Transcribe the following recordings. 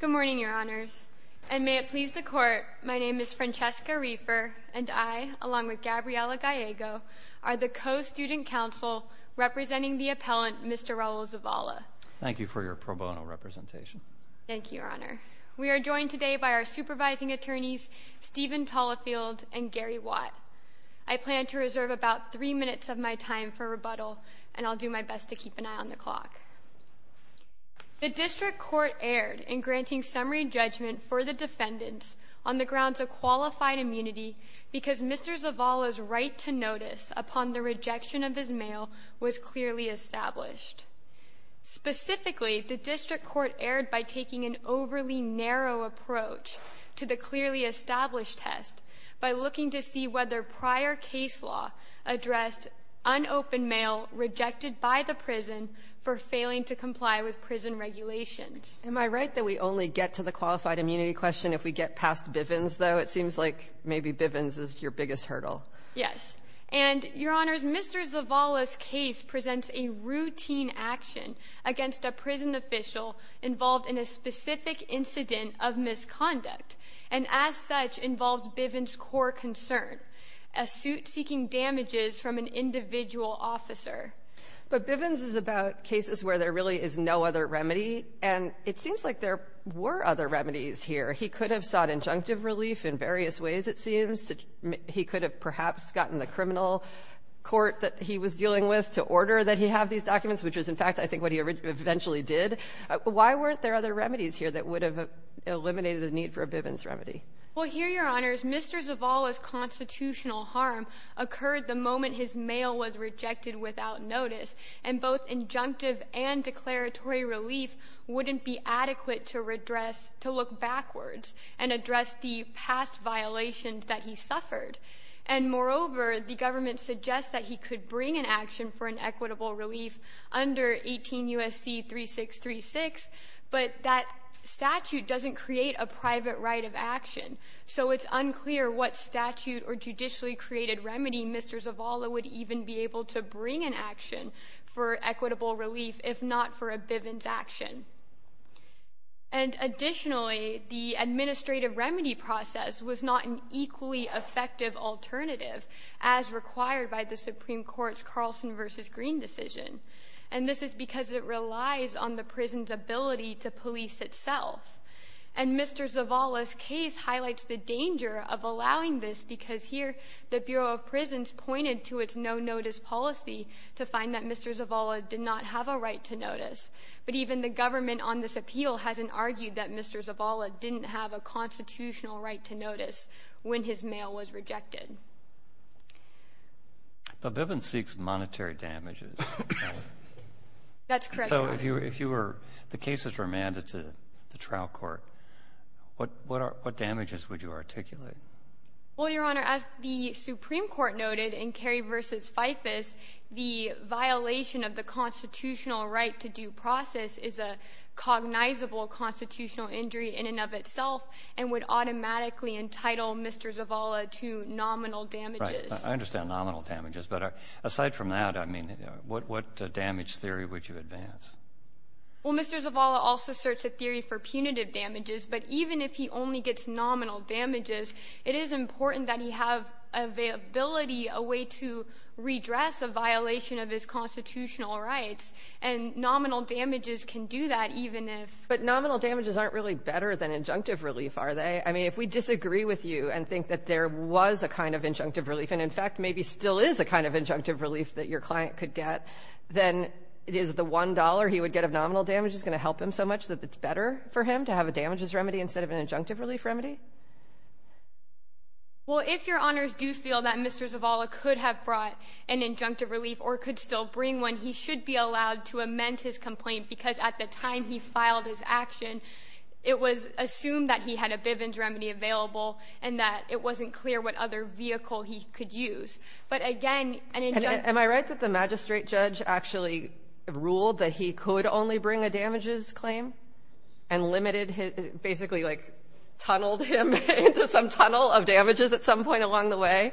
Good morning, Your Honors. And may it please the Court, my name is Francesca Reifer, and I, along with Gabriela Gallego, are the co-student counsel representing the appellant, Mr. Raul Zavala. Thank you for your pro bono representation. Thank you, Your Honor. We are joined today by our supervising attorneys, Stephen Tollefield and Gary Watt. I plan to reserve about three minutes of my time for rebuttal, and I'll do my best to keep an eye on the clock. The District Court erred in granting summary judgment for the defendants on the grounds of qualified immunity because Mr. Zavala's right to notice upon the rejection of his immunity. Specifically, the District Court erred by taking an overly narrow approach to the clearly established test by looking to see whether prior case law addressed unopened mail rejected by the prison for failing to comply with prison regulations. Am I right that we only get to the qualified immunity question if we get past Bivens, though? It seems like maybe Bivens is your biggest hurdle. Yes. And, Your Honors, Mr. Zavala's case presents a routine action against a prison official involved in a specific incident of misconduct and, as such, involves Bivens' core concern, a suit seeking damages from an individual officer. But Bivens is about cases where there really is no other remedy, and it seems like there were other remedies here. He could have sought injunctive relief in various ways, it seems. He could have perhaps gotten the criminal court that he was dealing with to order that he have these documents, which is, in fact, I think what he eventually did. Why weren't there other remedies here that would have eliminated the need for a Bivens remedy? Well, here, Your Honors, Mr. Zavala's constitutional harm occurred the moment his mail was rejected without notice, and both injunctive and declaratory relief wouldn't be adequate to address, to look backwards and address the past violations that he suffered. And moreover, the government suggests that he could bring an action for an equitable relief under 18 U.S.C. 3636, but that statute doesn't create a private right of action. So it's unclear what statute or judicially created remedy Mr. Zavala would even be able to bring an action for equitable relief if not for a Bivens action. And additionally, the administrative remedy process was not an equally effective alternative as required by the Supreme Court's Carlson v. Green decision, and this is because it relies on the prison's ability to police itself. And Mr. Zavala's case highlights the danger of allowing this because here the Bureau of Policy to find that Mr. Zavala did not have a right to notice, but even the government on this appeal hasn't argued that Mr. Zavala didn't have a constitutional right to notice when his mail was rejected. But Bivens seeks monetary damages. That's correct, Your Honor. If you were, if the cases were mandated to the trial court, what damages would you articulate? Well, Your Honor, as the Supreme Court noted in Kerry v. FIFAS, the violation of the constitutional right to due process is a cognizable constitutional injury in and of itself and would automatically entitle Mr. Zavala to nominal damages. Right. I understand nominal damages, but aside from that, I mean, what damage theory would you advance? Well, Mr. Zavala also asserts a theory for punitive damages, but even if he only gets nominal damages, it is important that he have availability, a way to redress a violation of his constitutional rights, and nominal damages can do that even if. But nominal damages aren't really better than injunctive relief, are they? I mean, if we disagree with you and think that there was a kind of injunctive relief and, in fact, maybe still is a kind of injunctive relief that your client could get, then is the $1 he would get of nominal damages going to help him so much that it's better for him to have a damages remedy instead of an injunctive relief remedy? Well, if Your Honors do feel that Mr. Zavala could have brought an injunctive relief or could still bring one, he should be allowed to amend his complaint, because at the time he filed his action, it was assumed that he had a Bivens remedy available and that it wasn't clear what other vehicle he could use. But again, an injunctive. And am I right that the magistrate judge actually ruled that he could only bring a damages claim and limited his — basically, like, tunneled him into some tunnel of damages at some point along the way,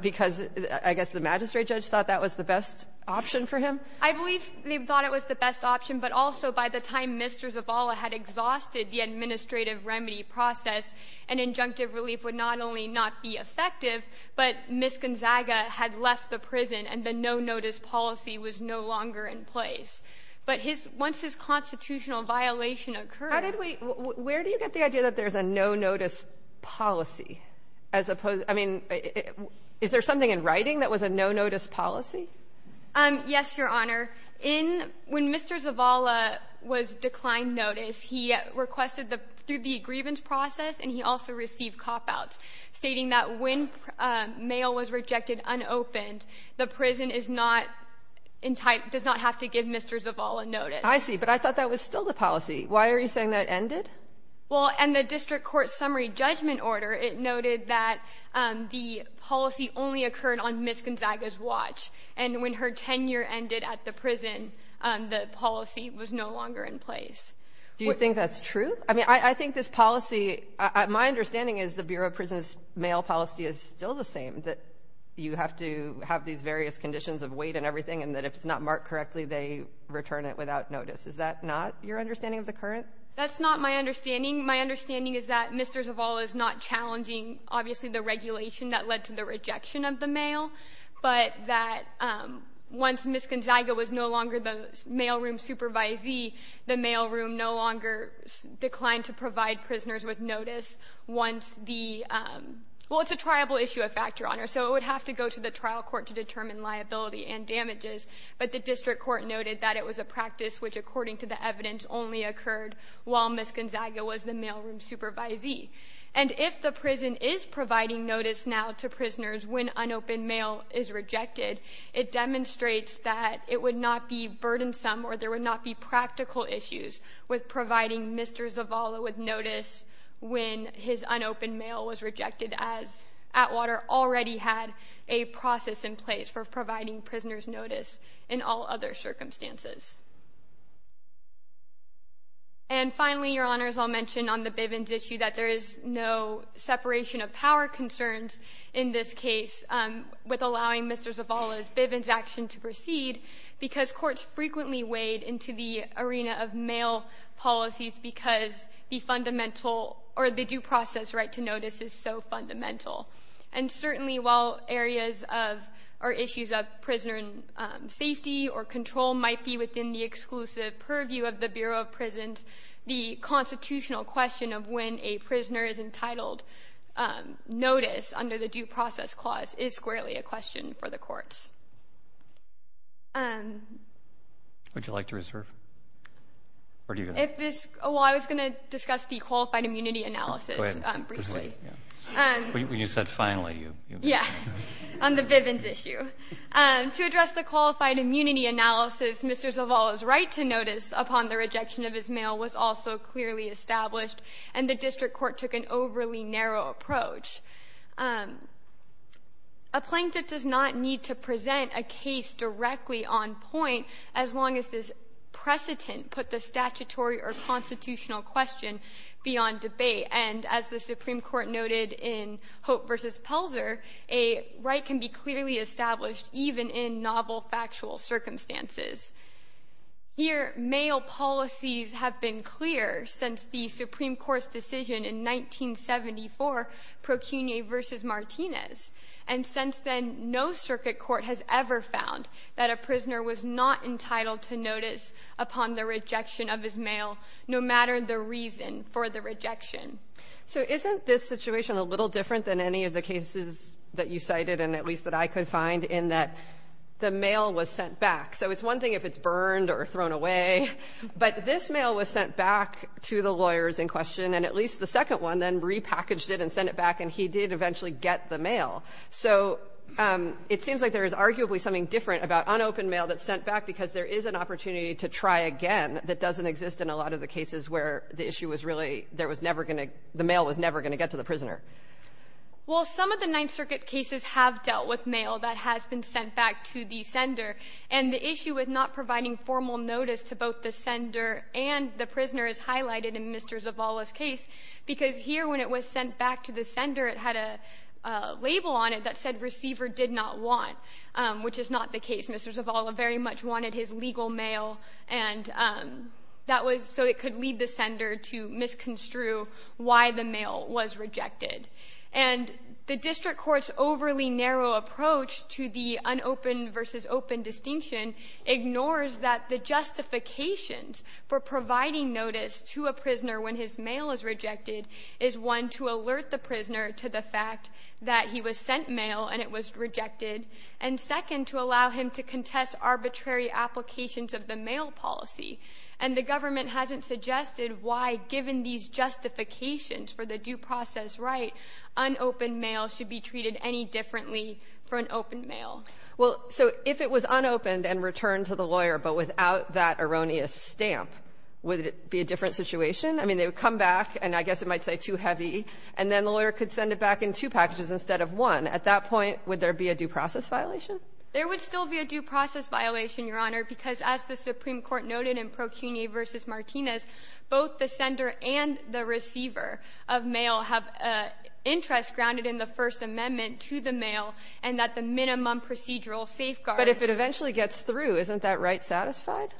because I guess the magistrate judge thought that was the best option for him? I believe they thought it was the best option, but also by the time Mr. Zavala had exhausted the administrative remedy process, an injunctive relief would not only not be effective, but Ms. Gonzaga had left the prison and the no-notice policy was no longer in place. But his — once his constitutional violation occurred — How did we — where do you get the idea that there's a no-notice policy as opposed — I mean, is there something in writing that was a no-notice policy? Yes, Your Honor. In — when Mr. Zavala was declined notice, he requested the — through the grievance process, and he also received cop-outs, stating that when mail was rejected unopened, the prison is not — does not have to give Mr. Zavala notice. I see. But I thought that was still the policy. Why are you saying that ended? Well, and the district court summary judgment order, it noted that the policy only occurred on Ms. Gonzaga's watch, and when her tenure ended at the prison, the policy was no longer in place. Do you think that's true? I mean, I think this policy — my understanding is the Bureau of Prison's mail policy is still the same, that you have to have these various conditions of weight and everything, and that if it's not marked correctly, they return it without notice. Is that not your understanding of the current — That's not my understanding. My understanding is that Mr. Zavala is not challenging, obviously, the regulation that led to the rejection of the mail, but that once Ms. Gonzaga was no longer the mailroom supervisee, the mailroom no longer declined to provide prisoners with notice once the — well, it's a triable issue of fact, Your Honor, so it would have to go to the trial court to determine liability and damages, but the district court noted that it was a practice which, according to the evidence, only occurred while Ms. Gonzaga was the mailroom supervisee. And if the prison is providing notice now to prisoners when unopened mail is rejected, it demonstrates that it would not be burdensome or there would not be practical issues with providing Mr. Zavala with notice when his unopened mail was rejected, as Atwater already had a process in place for providing prisoners notice in all other circumstances. And finally, Your Honor, as I'll mention on the Bivens issue, that there is no separation of power concerns in this case with allowing Mr. Zavala's Bivens action to proceed because courts frequently wade into the arena of mail policies because the fundamental or the due process right to notice is so fundamental. And certainly while areas of — or issues of prisoner safety or control might be within the exclusive purview of the Bureau of Prisons, the constitutional question of when a prisoner is entitled notice under the due process clause is squarely a question for the courts. Would you like to reserve? Or do you — If this — well, I was going to discuss the qualified immunity analysis briefly. When you said finally, you — Yeah, on the Bivens issue. To address the qualified immunity analysis, Mr. Zavala's right to notice upon the rejection of his mail was also clearly established, and the district court took an overly narrow approach. A plaintiff does not need to present a case directly on point as long as this precedent put the statutory or constitutional question beyond debate. And as the Supreme Court noted in Hope v. Pelzer, a right can be clearly established even in novel factual circumstances. Here, mail policies have been clear since the Supreme Court's decision in 1974, Procunia v. Martinez. And since then, no circuit court has ever found that a prisoner was not entitled to notice upon the rejection of his mail, no matter the reason for the rejection. So isn't this situation a little different than any of the cases that you cited, and at least that I could find, in that the mail was sent back? So it's one thing if it's burned or thrown away, but this mail was sent back to the lawyers in question, and at least the second one then repackaged it and sent it back, and he did eventually get the mail. So it seems like there is arguably something different about unopened mail that's sent back because there is an opportunity to try again that doesn't exist in a lot of the cases where the issue was really — there was never going to — the mail was never going to get to the prisoner. Well, some of the Ninth Circuit cases have dealt with mail that has been sent back to the sender, and the issue with not providing formal notice to both the sender and the prisoner is highlighted in Mr. Zavala's case, because here when it was sent back to the sender, it had a label on it that said receiver did not want, which is not the case. Mr. Zavala very much wanted his legal mail, and that was so it could lead the sender to misconstrue why the mail was rejected. And the district court's overly narrow approach to the unopened versus open distinction ignores that the justifications for providing notice to a prisoner when his mail is rejected is, one, to alert the prisoner to the fact that he was sent mail and it was rejected, and, second, to allow him to contest arbitrary applications of the mail policy. And the government hasn't suggested why, given these justifications for the due process right, unopened mail should be treated any differently for an open mail. Well, so if it was unopened and returned to the lawyer, but without that erroneous stamp, would it be a different situation? I mean, they would come back, and I guess it might say too heavy, and then the lawyer could send it back in two packages instead of one. At that point, would there be a due process violation? There would still be a due process violation, Your Honor, because as the Supreme Court said, the prisoner will have an interest grounded in the First Amendment to the mail, and that the minimum procedural safeguards. But if it eventually gets through, isn't that right satisfied?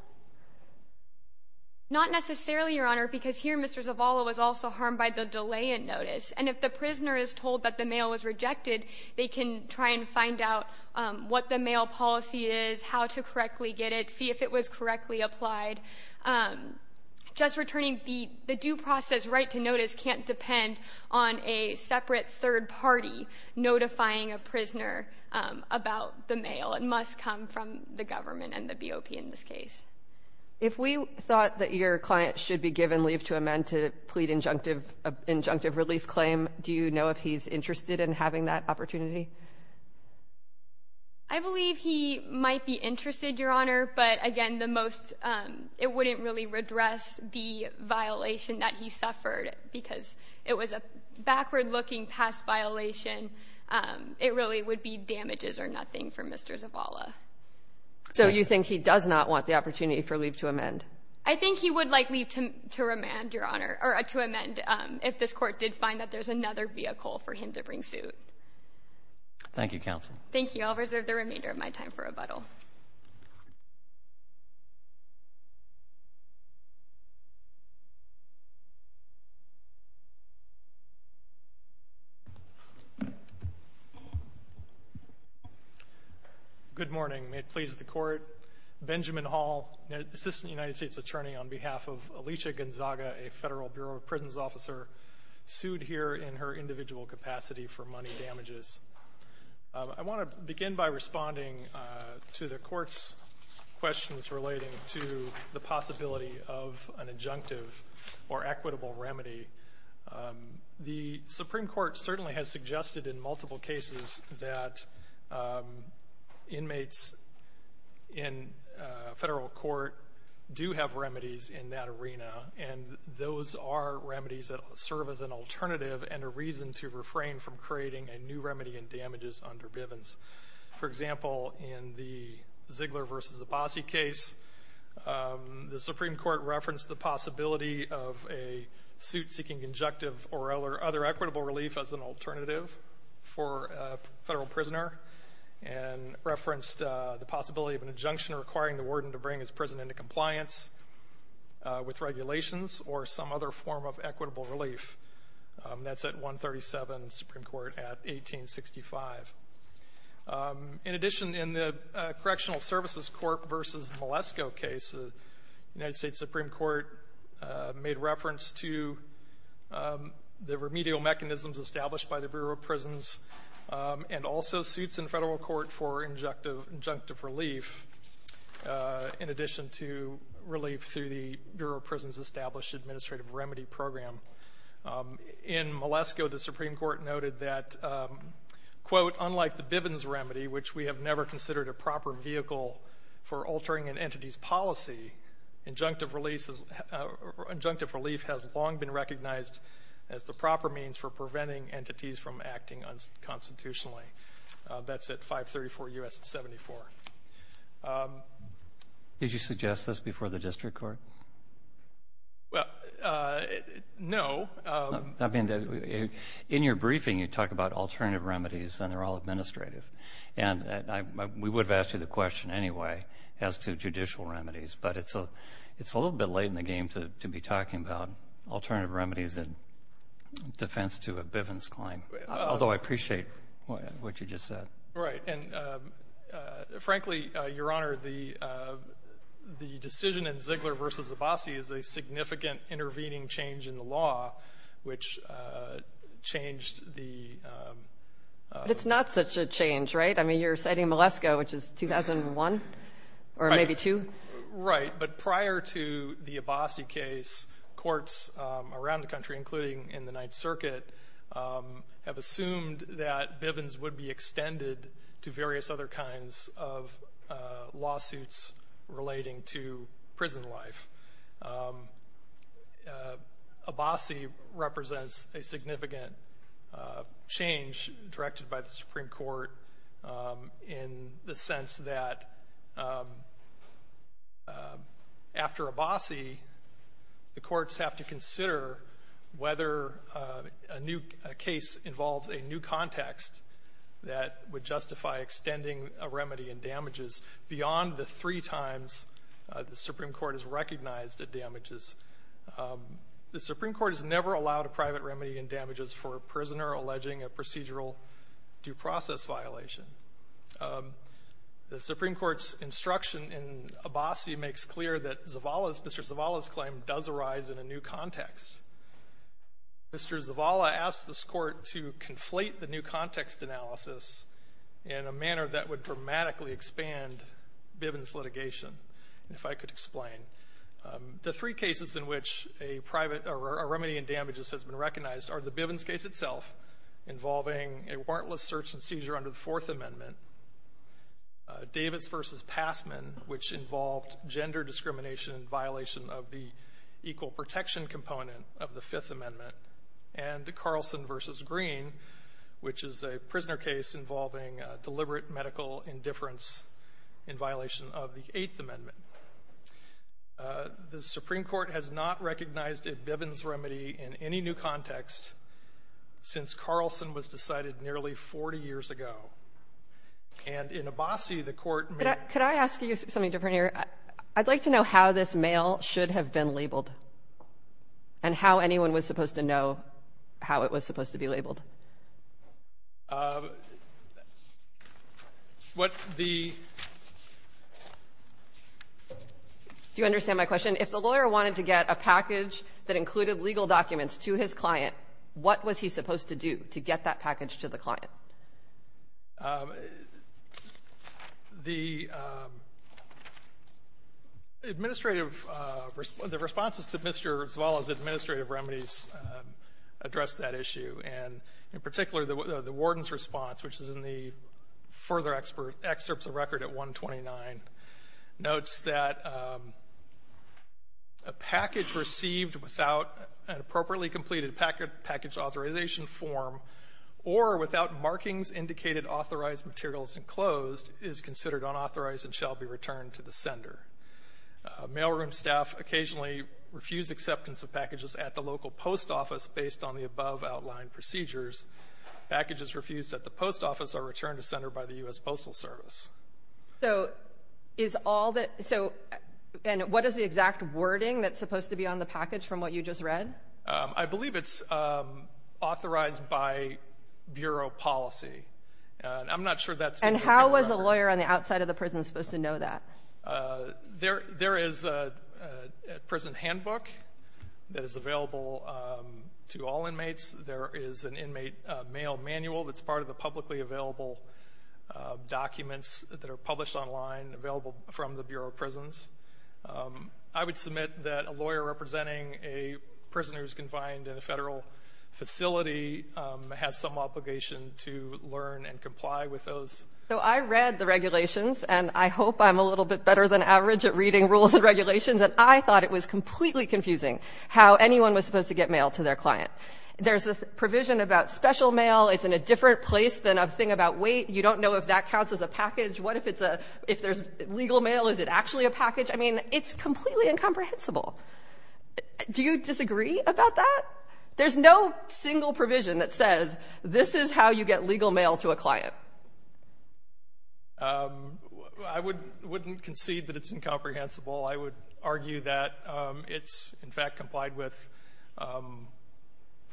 Not necessarily, Your Honor, because here Mr. Zavala was also harmed by the delay in notice. And if the prisoner is told that the mail was rejected, they can try and find out what the mail policy is, how to correctly get it, see if it was correctly applied. Just returning the due process right to notice can't depend on a separate third party notifying a prisoner about the mail. It must come from the government and the BOP in this case. If we thought that your client should be given leave to amend to plead injunctive relief claim, do you know if he's interested in having that opportunity? I believe he might be interested, Your Honor, but, again, the most unlikely it wouldn't really redress the violation that he suffered because it was a backward looking past violation. It really would be damages or nothing for Mr. Zavala. So you think he does not want the opportunity for leave to amend? I think he would like leave to amend, Your Honor, or to amend if this court did find that there's another vehicle for him to bring suit. Thank you, Counsel. Good morning. May it please the Court, Benjamin Hall, Assistant United States Attorney on behalf of Alicia Gonzaga, a Federal Bureau of Prisons Officer, sued here in her individual capacity for money damages. I want to begin by responding to the Court's questions relating to the possibility of an injunctive or equitable remedy. The Supreme Court certainly has suggested in multiple cases that inmates in federal court do have remedies in that arena, and those are remedies that serve as an alternative and a reason to refrain from creating a new remedy in damages under Bivens. For example, in the Ziegler v. Abbasi case, the Supreme Court referenced the possibility of a suit seeking injunctive or other equitable relief as an alternative for a federal prisoner and referenced the possibility of an injunction requiring the relief. That's at 137, Supreme Court, at 1865. In addition, in the Correctional Services Court v. Malesko case, the United States Supreme Court made reference to the remedial mechanisms established by the Bureau of Prisons and also suits in federal court for injunctive relief, in addition to relief through the Bureau of Prisons. In Malesko, the Supreme Court noted that, quote, unlike the Bivens remedy, which we have never considered a proper vehicle for altering an entity's policy, injunctive relief has long been recognized as the proper means for preventing entities from acting unconstitutionally. That's at 534 U.S. 74. Did you suggest this before the district court? Well, no. I mean, in your briefing, you talk about alternative remedies, and they're all administrative. We would have asked you the question anyway as to judicial remedies, but it's a little bit late in the game to be talking about alternative remedies in defense to a Bivens claim, although I appreciate what you just said. Right. And frankly, Your Honor, the decision in Ziegler v. Abbasi is a significant intervening change in the law, which changed the... It's not such a change, right? I mean, you're citing Malesko, which is 2001 or maybe 2. Right. But prior to the Abbasi case, courts around the country, including in the Ninth Circuit, did various other kinds of lawsuits relating to prison life. Abbasi represents a significant change directed by the Supreme Court in the sense that after Abbasi, the courts have to consider whether a new case involves a new context that would justify extending a remedy in damages beyond the three times the Supreme Court has recognized a damages. The Supreme Court has never allowed a private remedy in damages for a prisoner alleging a procedural due process violation. The Supreme Court's instruction in Abbasi makes clear that Zavala's, Mr. Zavala's claim does arise in a new context. Mr. Zavala asked this court to conflate the new context analysis in a manner that would dramatically expand Bivens litigation, if I could explain. The three cases in which a remedy in damages has been recognized are the Bivens case itself involving a warrantless search and seizure under the Fourth Amendment, Davis v. Passman, which involved gender discrimination and violation of the equal protection component of the Fifth Amendment, and Bivens v. Green, which is a prisoner case involving deliberate medical indifference in violation of the Eighth Amendment. The Supreme Court has not recognized a Bivens remedy in any new context since Carlson was decided nearly 40 years ago. And in Abbasi, the court made the same decision. Could I ask you something different here? I'd like to know how this mail should have been labeled, and how anyone was supposed to know how it was supposed to be labeled. What the — Do you understand my question? If the lawyer wanted to get a package that included legal documents to his client, what was he supposed to do to get that package to the client? The administrative — the responses to Mr. Zavala's administrative remedies addressed that issue, and in particular, the warden's response, which is in the further excerpts of record at 129, notes that a package received without an appropriately authorized materials enclosed is considered unauthorized and shall be returned to the sender. Mailroom staff occasionally refuse acceptance of packages at the local post office based on the above-outlined procedures. Packages refused at the post office are returned to sender by the U.S. Postal Service. So is all that — so what is the exact wording that's supposed to be on the package from what you just read? I believe it's authorized by bureau policy, and I'm not sure that's — And how was the lawyer on the outside of the prison supposed to know that? There is a prison handbook that is available to all inmates. There is an inmate mail manual that's part of the publicly available documents that are published online, available from the Bureau of Prisons. I would submit that a lawyer representing a prisoner who's confined in a Federal facility has some obligation to learn and comply with those. So I read the regulations, and I hope I'm a little bit better than average at reading rules and regulations, and I thought it was completely confusing how anyone was supposed to get mail to their client. There's a provision about special mail. It's in a different place than a thing about weight. You don't know if that counts as a package. What if it's a — if there's legal mail, is it actually a package? I mean, it's completely incomprehensible. Do you disagree about that? There's no single provision that says this is how you get legal mail to a client. I wouldn't concede that it's incomprehensible. I would argue that it's, in fact, complied with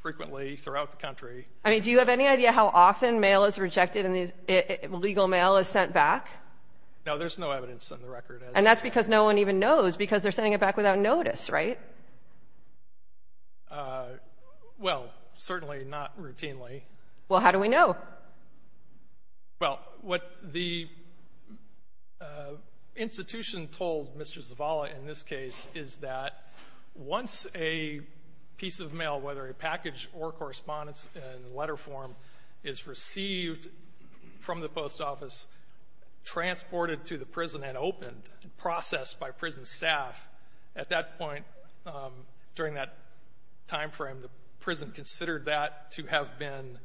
frequently throughout the country. I mean, do you have any idea how often mail is rejected and legal mail is sent back? No, there's no evidence on the record. And that's because no one even knows, because they're sending it back without notice, right? Well, certainly not routinely. Well, how do we know? Well, what the institution told Mr. Zavala in this case is that once a piece of mail, whether a package or correspondence in letter form, is received from the post office, transported to the prison and opened and processed by prison staff, at that point during that time frame, the prison considered that to have been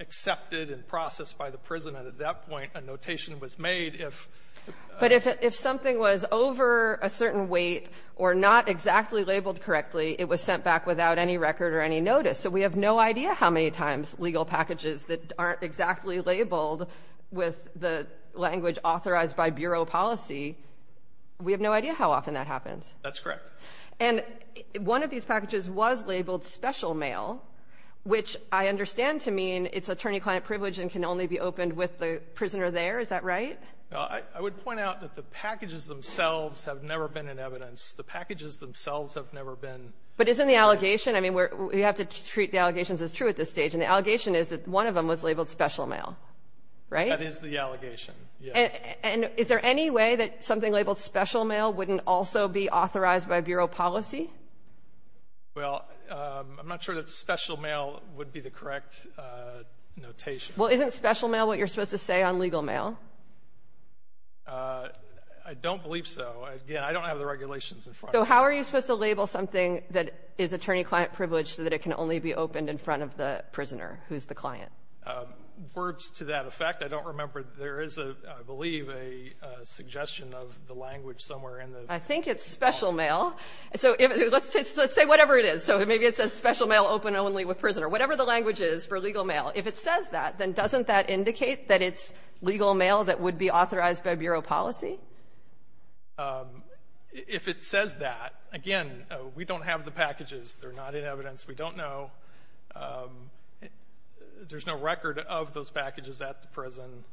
accepted and processed by the prison. And at that point, a notation was made if — But if something was over a certain weight or not exactly labeled correctly, it was sent back without any record or any notice. So we have no idea how many times legal packages that aren't exactly labeled with the language authorized by bureau policy. We have no idea how often that happens. That's correct. And one of these packages was labeled special mail, which I understand to mean it's attorney-client privilege and can only be opened with the prisoner there. Is that right? I would point out that the packages themselves have never been in evidence. The packages themselves have never been. But isn't the allegation — I mean, we have to treat the allegations as true at this point. The allegation is that one of them was labeled special mail, right? That is the allegation, yes. And is there any way that something labeled special mail wouldn't also be authorized by bureau policy? Well, I'm not sure that special mail would be the correct notation. Well, isn't special mail what you're supposed to say on legal mail? I don't believe so. Again, I don't have the regulations in front of me. So how are you supposed to label something that is attorney-client privilege so that it can only be opened in front of the prisoner who's the client? Words to that effect, I don't remember. There is, I believe, a suggestion of the language somewhere in the law. I think it's special mail. So let's say whatever it is. So maybe it says special mail open only with prisoner, whatever the language is for legal mail. If it says that, then doesn't that indicate that it's legal mail that would be authorized If it says that, again, we don't have the packages. They're not in evidence. We don't know. There's no record of those packages at the prison.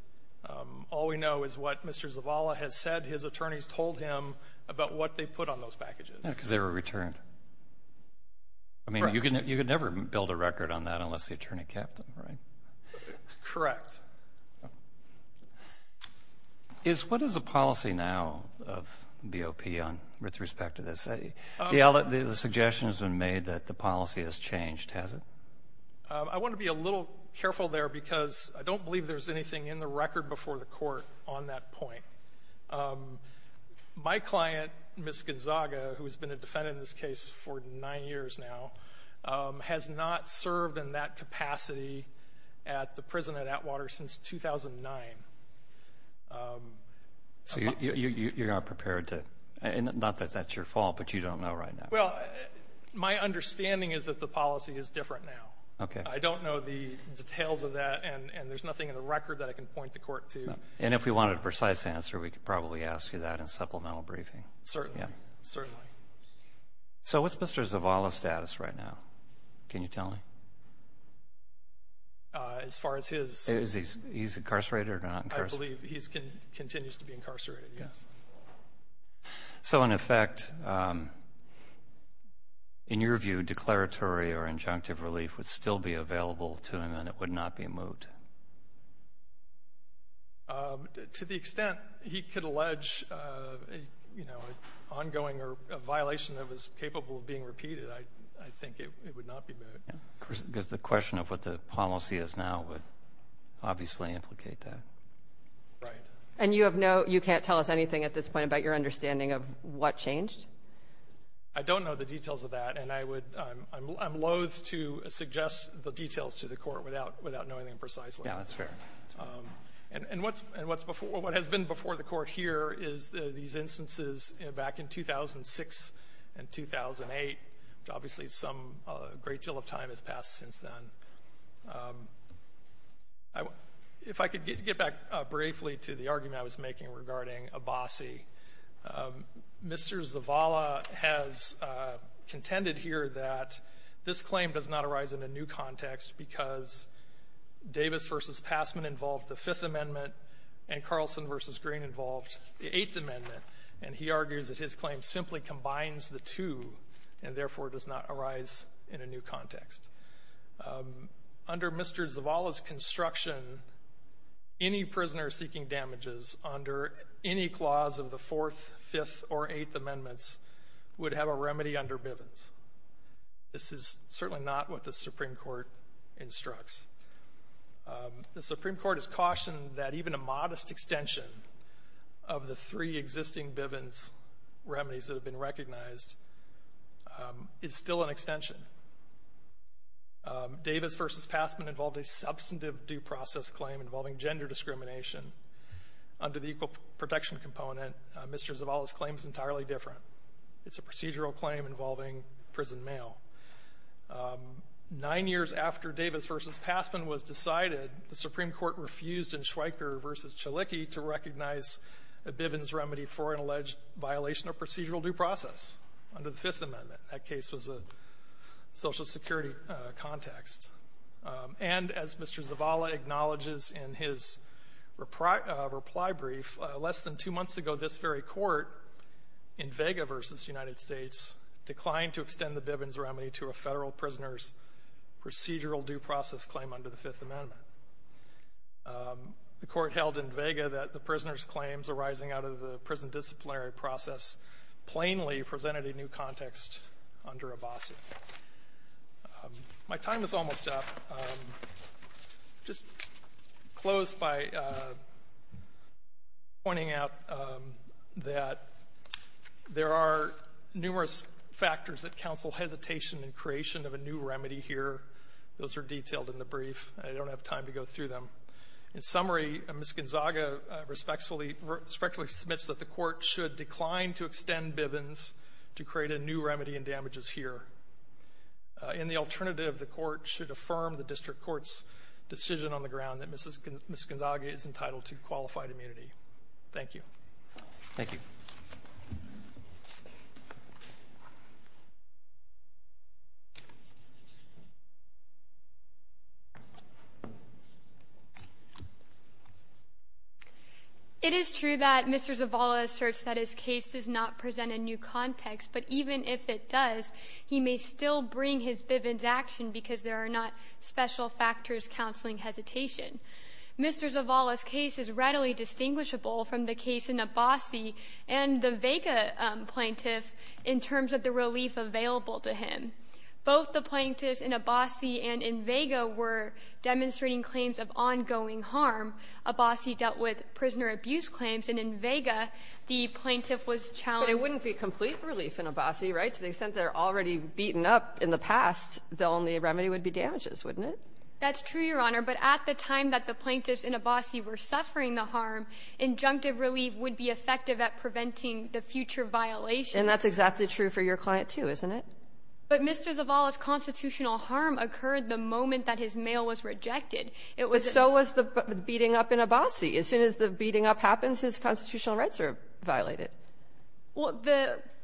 All we know is what Mr. Zavala has said his attorneys told him about what they put on those packages. Because they were returned. Correct. I mean, you could never build a record on that unless the attorney kept them, right? Correct. What is the policy now of BOP with respect to this? The suggestion has been made that the policy has changed, has it? I want to be a little careful there because I don't believe there's anything in the record before the court on that point. My client, Ms. Gonzaga, who has been a defendant in this case for nine years now, has not served in that capacity at the prison at Atwater since 2009. So you're not prepared to... Not that that's your fault, but you don't know right now. Well, my understanding is that the policy is different now. Okay. I don't know the details of that, and there's nothing in the record that I can point the court to. And if we wanted a precise answer, we could probably ask you that in supplemental briefing. Certainly. Certainly. So what's Mr. Zavala's status right now? Can you tell me? As far as his... Is he incarcerated or not incarcerated? I believe he continues to be incarcerated, yes. So, in effect, in your view, declaratory or injunctive relief would still be available to him and it would not be moot? To the extent he could allege an ongoing violation that was capable of being repeated, I think it would not be moot. Because the question of what the policy is now would obviously implicate that. Right. And you can't tell us anything at this point about your understanding of what changed? I don't know the details of that, and I'm loathe to suggest the details to the court without knowing them precisely. Yeah, that's fair. And what has been before the court here is these instances back in 2006 and 2008, which obviously some great deal of time has passed since then. If I could get back briefly to the argument I was making regarding Abbasi, Mr. Zavala has contended here that this claim does not arise in a new context because Davis v. Passman involved the Fifth Amendment and Carlson v. Green involved the Eighth Amendment. And he argues that his claim simply combines the two and therefore does not arise in a new context. Under Mr. Zavala's construction, any prisoner seeking damages under any clause of the Fourth, Fifth, or Eighth Amendments would have a remedy under Bivens. This is certainly not what the Supreme Court instructs. The Supreme Court has cautioned that even a modest extension of the three existing Bivens remedies that have been recognized is still an extension. Davis v. Passman involved a substantive due process claim involving gender discrimination. Under the Equal Protection Component, Mr. Zavala's claim is entirely different. It's a procedural claim involving prison mail. Nine years after Davis v. Passman was decided, the Supreme Court refused in Schweiker v. Chalicki to recognize a Bivens remedy for an alleged violation of procedural due process under the Fifth Amendment. That case was a Social Security context. And as Mr. Zavala acknowledges in his reply brief, less than two months ago, this very court in Vega v. United States declined to extend the Bivens remedy to a Federal prisoner's procedural due process claim under the Fifth Amendment. The court held in Vega that the prisoner's claims arising out of the prison disciplinary process plainly presented a new context under Abbasi. My time is almost up. I'll just close by pointing out that there are numerous factors that counsel hesitation in creation of a new remedy here. Those are detailed in the brief. I don't have time to go through them. In summary, Ms. Gonzaga respectfully submits that the court should decline to extend Bivens to create a new remedy in damages here. And the alternative, the court should affirm the district court's decision on the ground that Ms. Gonzaga is entitled to qualified immunity. Thank you. Roberts. It is true that Mr. Zavala asserts that his case does not present a new context, but even if it does, he may still bring his Bivens action because there are not special factors counseling hesitation. Mr. Zavala's case is readily distinguishable from the case in Abbasi and the Vega plaintiff in terms of the relief available to him. Both the plaintiffs in Abbasi and in Vega were demonstrating claims of ongoing harm. Abbasi dealt with prisoner abuse claims, and in Vega, the plaintiff was challenged So it wouldn't be complete relief in Abbasi, right? To the extent that they're already beaten up in the past, the only remedy would be damages, wouldn't it? That's true, Your Honor. But at the time that the plaintiffs in Abbasi were suffering the harm, injunctive relief would be effective at preventing the future violation. And that's exactly true for your client, too, isn't it? But Mr. Zavala's constitutional harm occurred the moment that his mail was rejected. It was a ---- But so was the beating up in Abbasi. As soon as the beating up happens, his constitutional rights are violated. Well,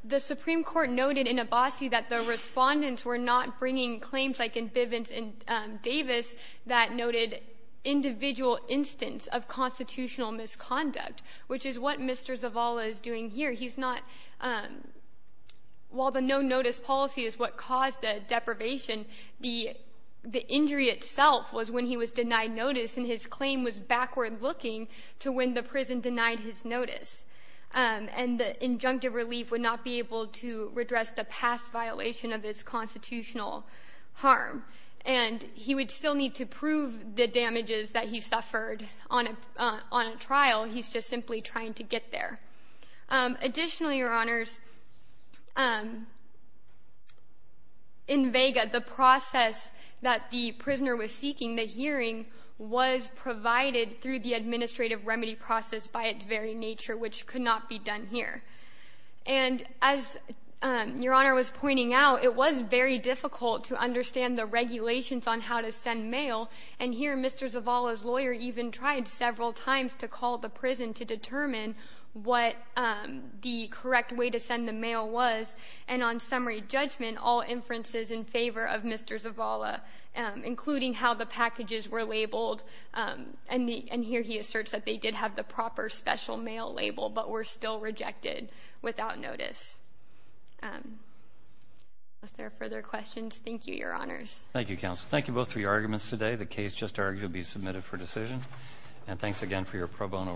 the Supreme Court noted in Abbasi that the respondents were not bringing claims like in Bivens and Davis that noted individual instance of constitutional misconduct, which is what Mr. Zavala is doing here. He's not ---- While the no-notice policy is what caused the deprivation, the injury itself was when he was denied notice, and his claim was backward-looking to when the prison denied his notice. And the injunctive relief would not be able to redress the past violation of his constitutional harm. And he would still need to prove the damages that he suffered on a trial. He's just simply trying to get there. Additionally, Your Honors, in Vega, the process that the prisoner was seeking, the hearing, was provided through the administrative remedy process by its very nature, which could not be done here. And as Your Honor was pointing out, it was very difficult to understand the regulations on how to send mail. And here Mr. Zavala's lawyer even tried several times to call the prison to determine what the correct way to send the mail was, and on summary judgment, all inferences in favor of Mr. Zavala, including how the packages were labeled. And here he asserts that they did have the proper special mail label, but were still rejected without notice. Unless there are further questions, thank you, Your Honors. Thank you, Counsel. Thank you both for your arguments today. The case just argued to be submitted for decision. And thanks again for your pro bono representation.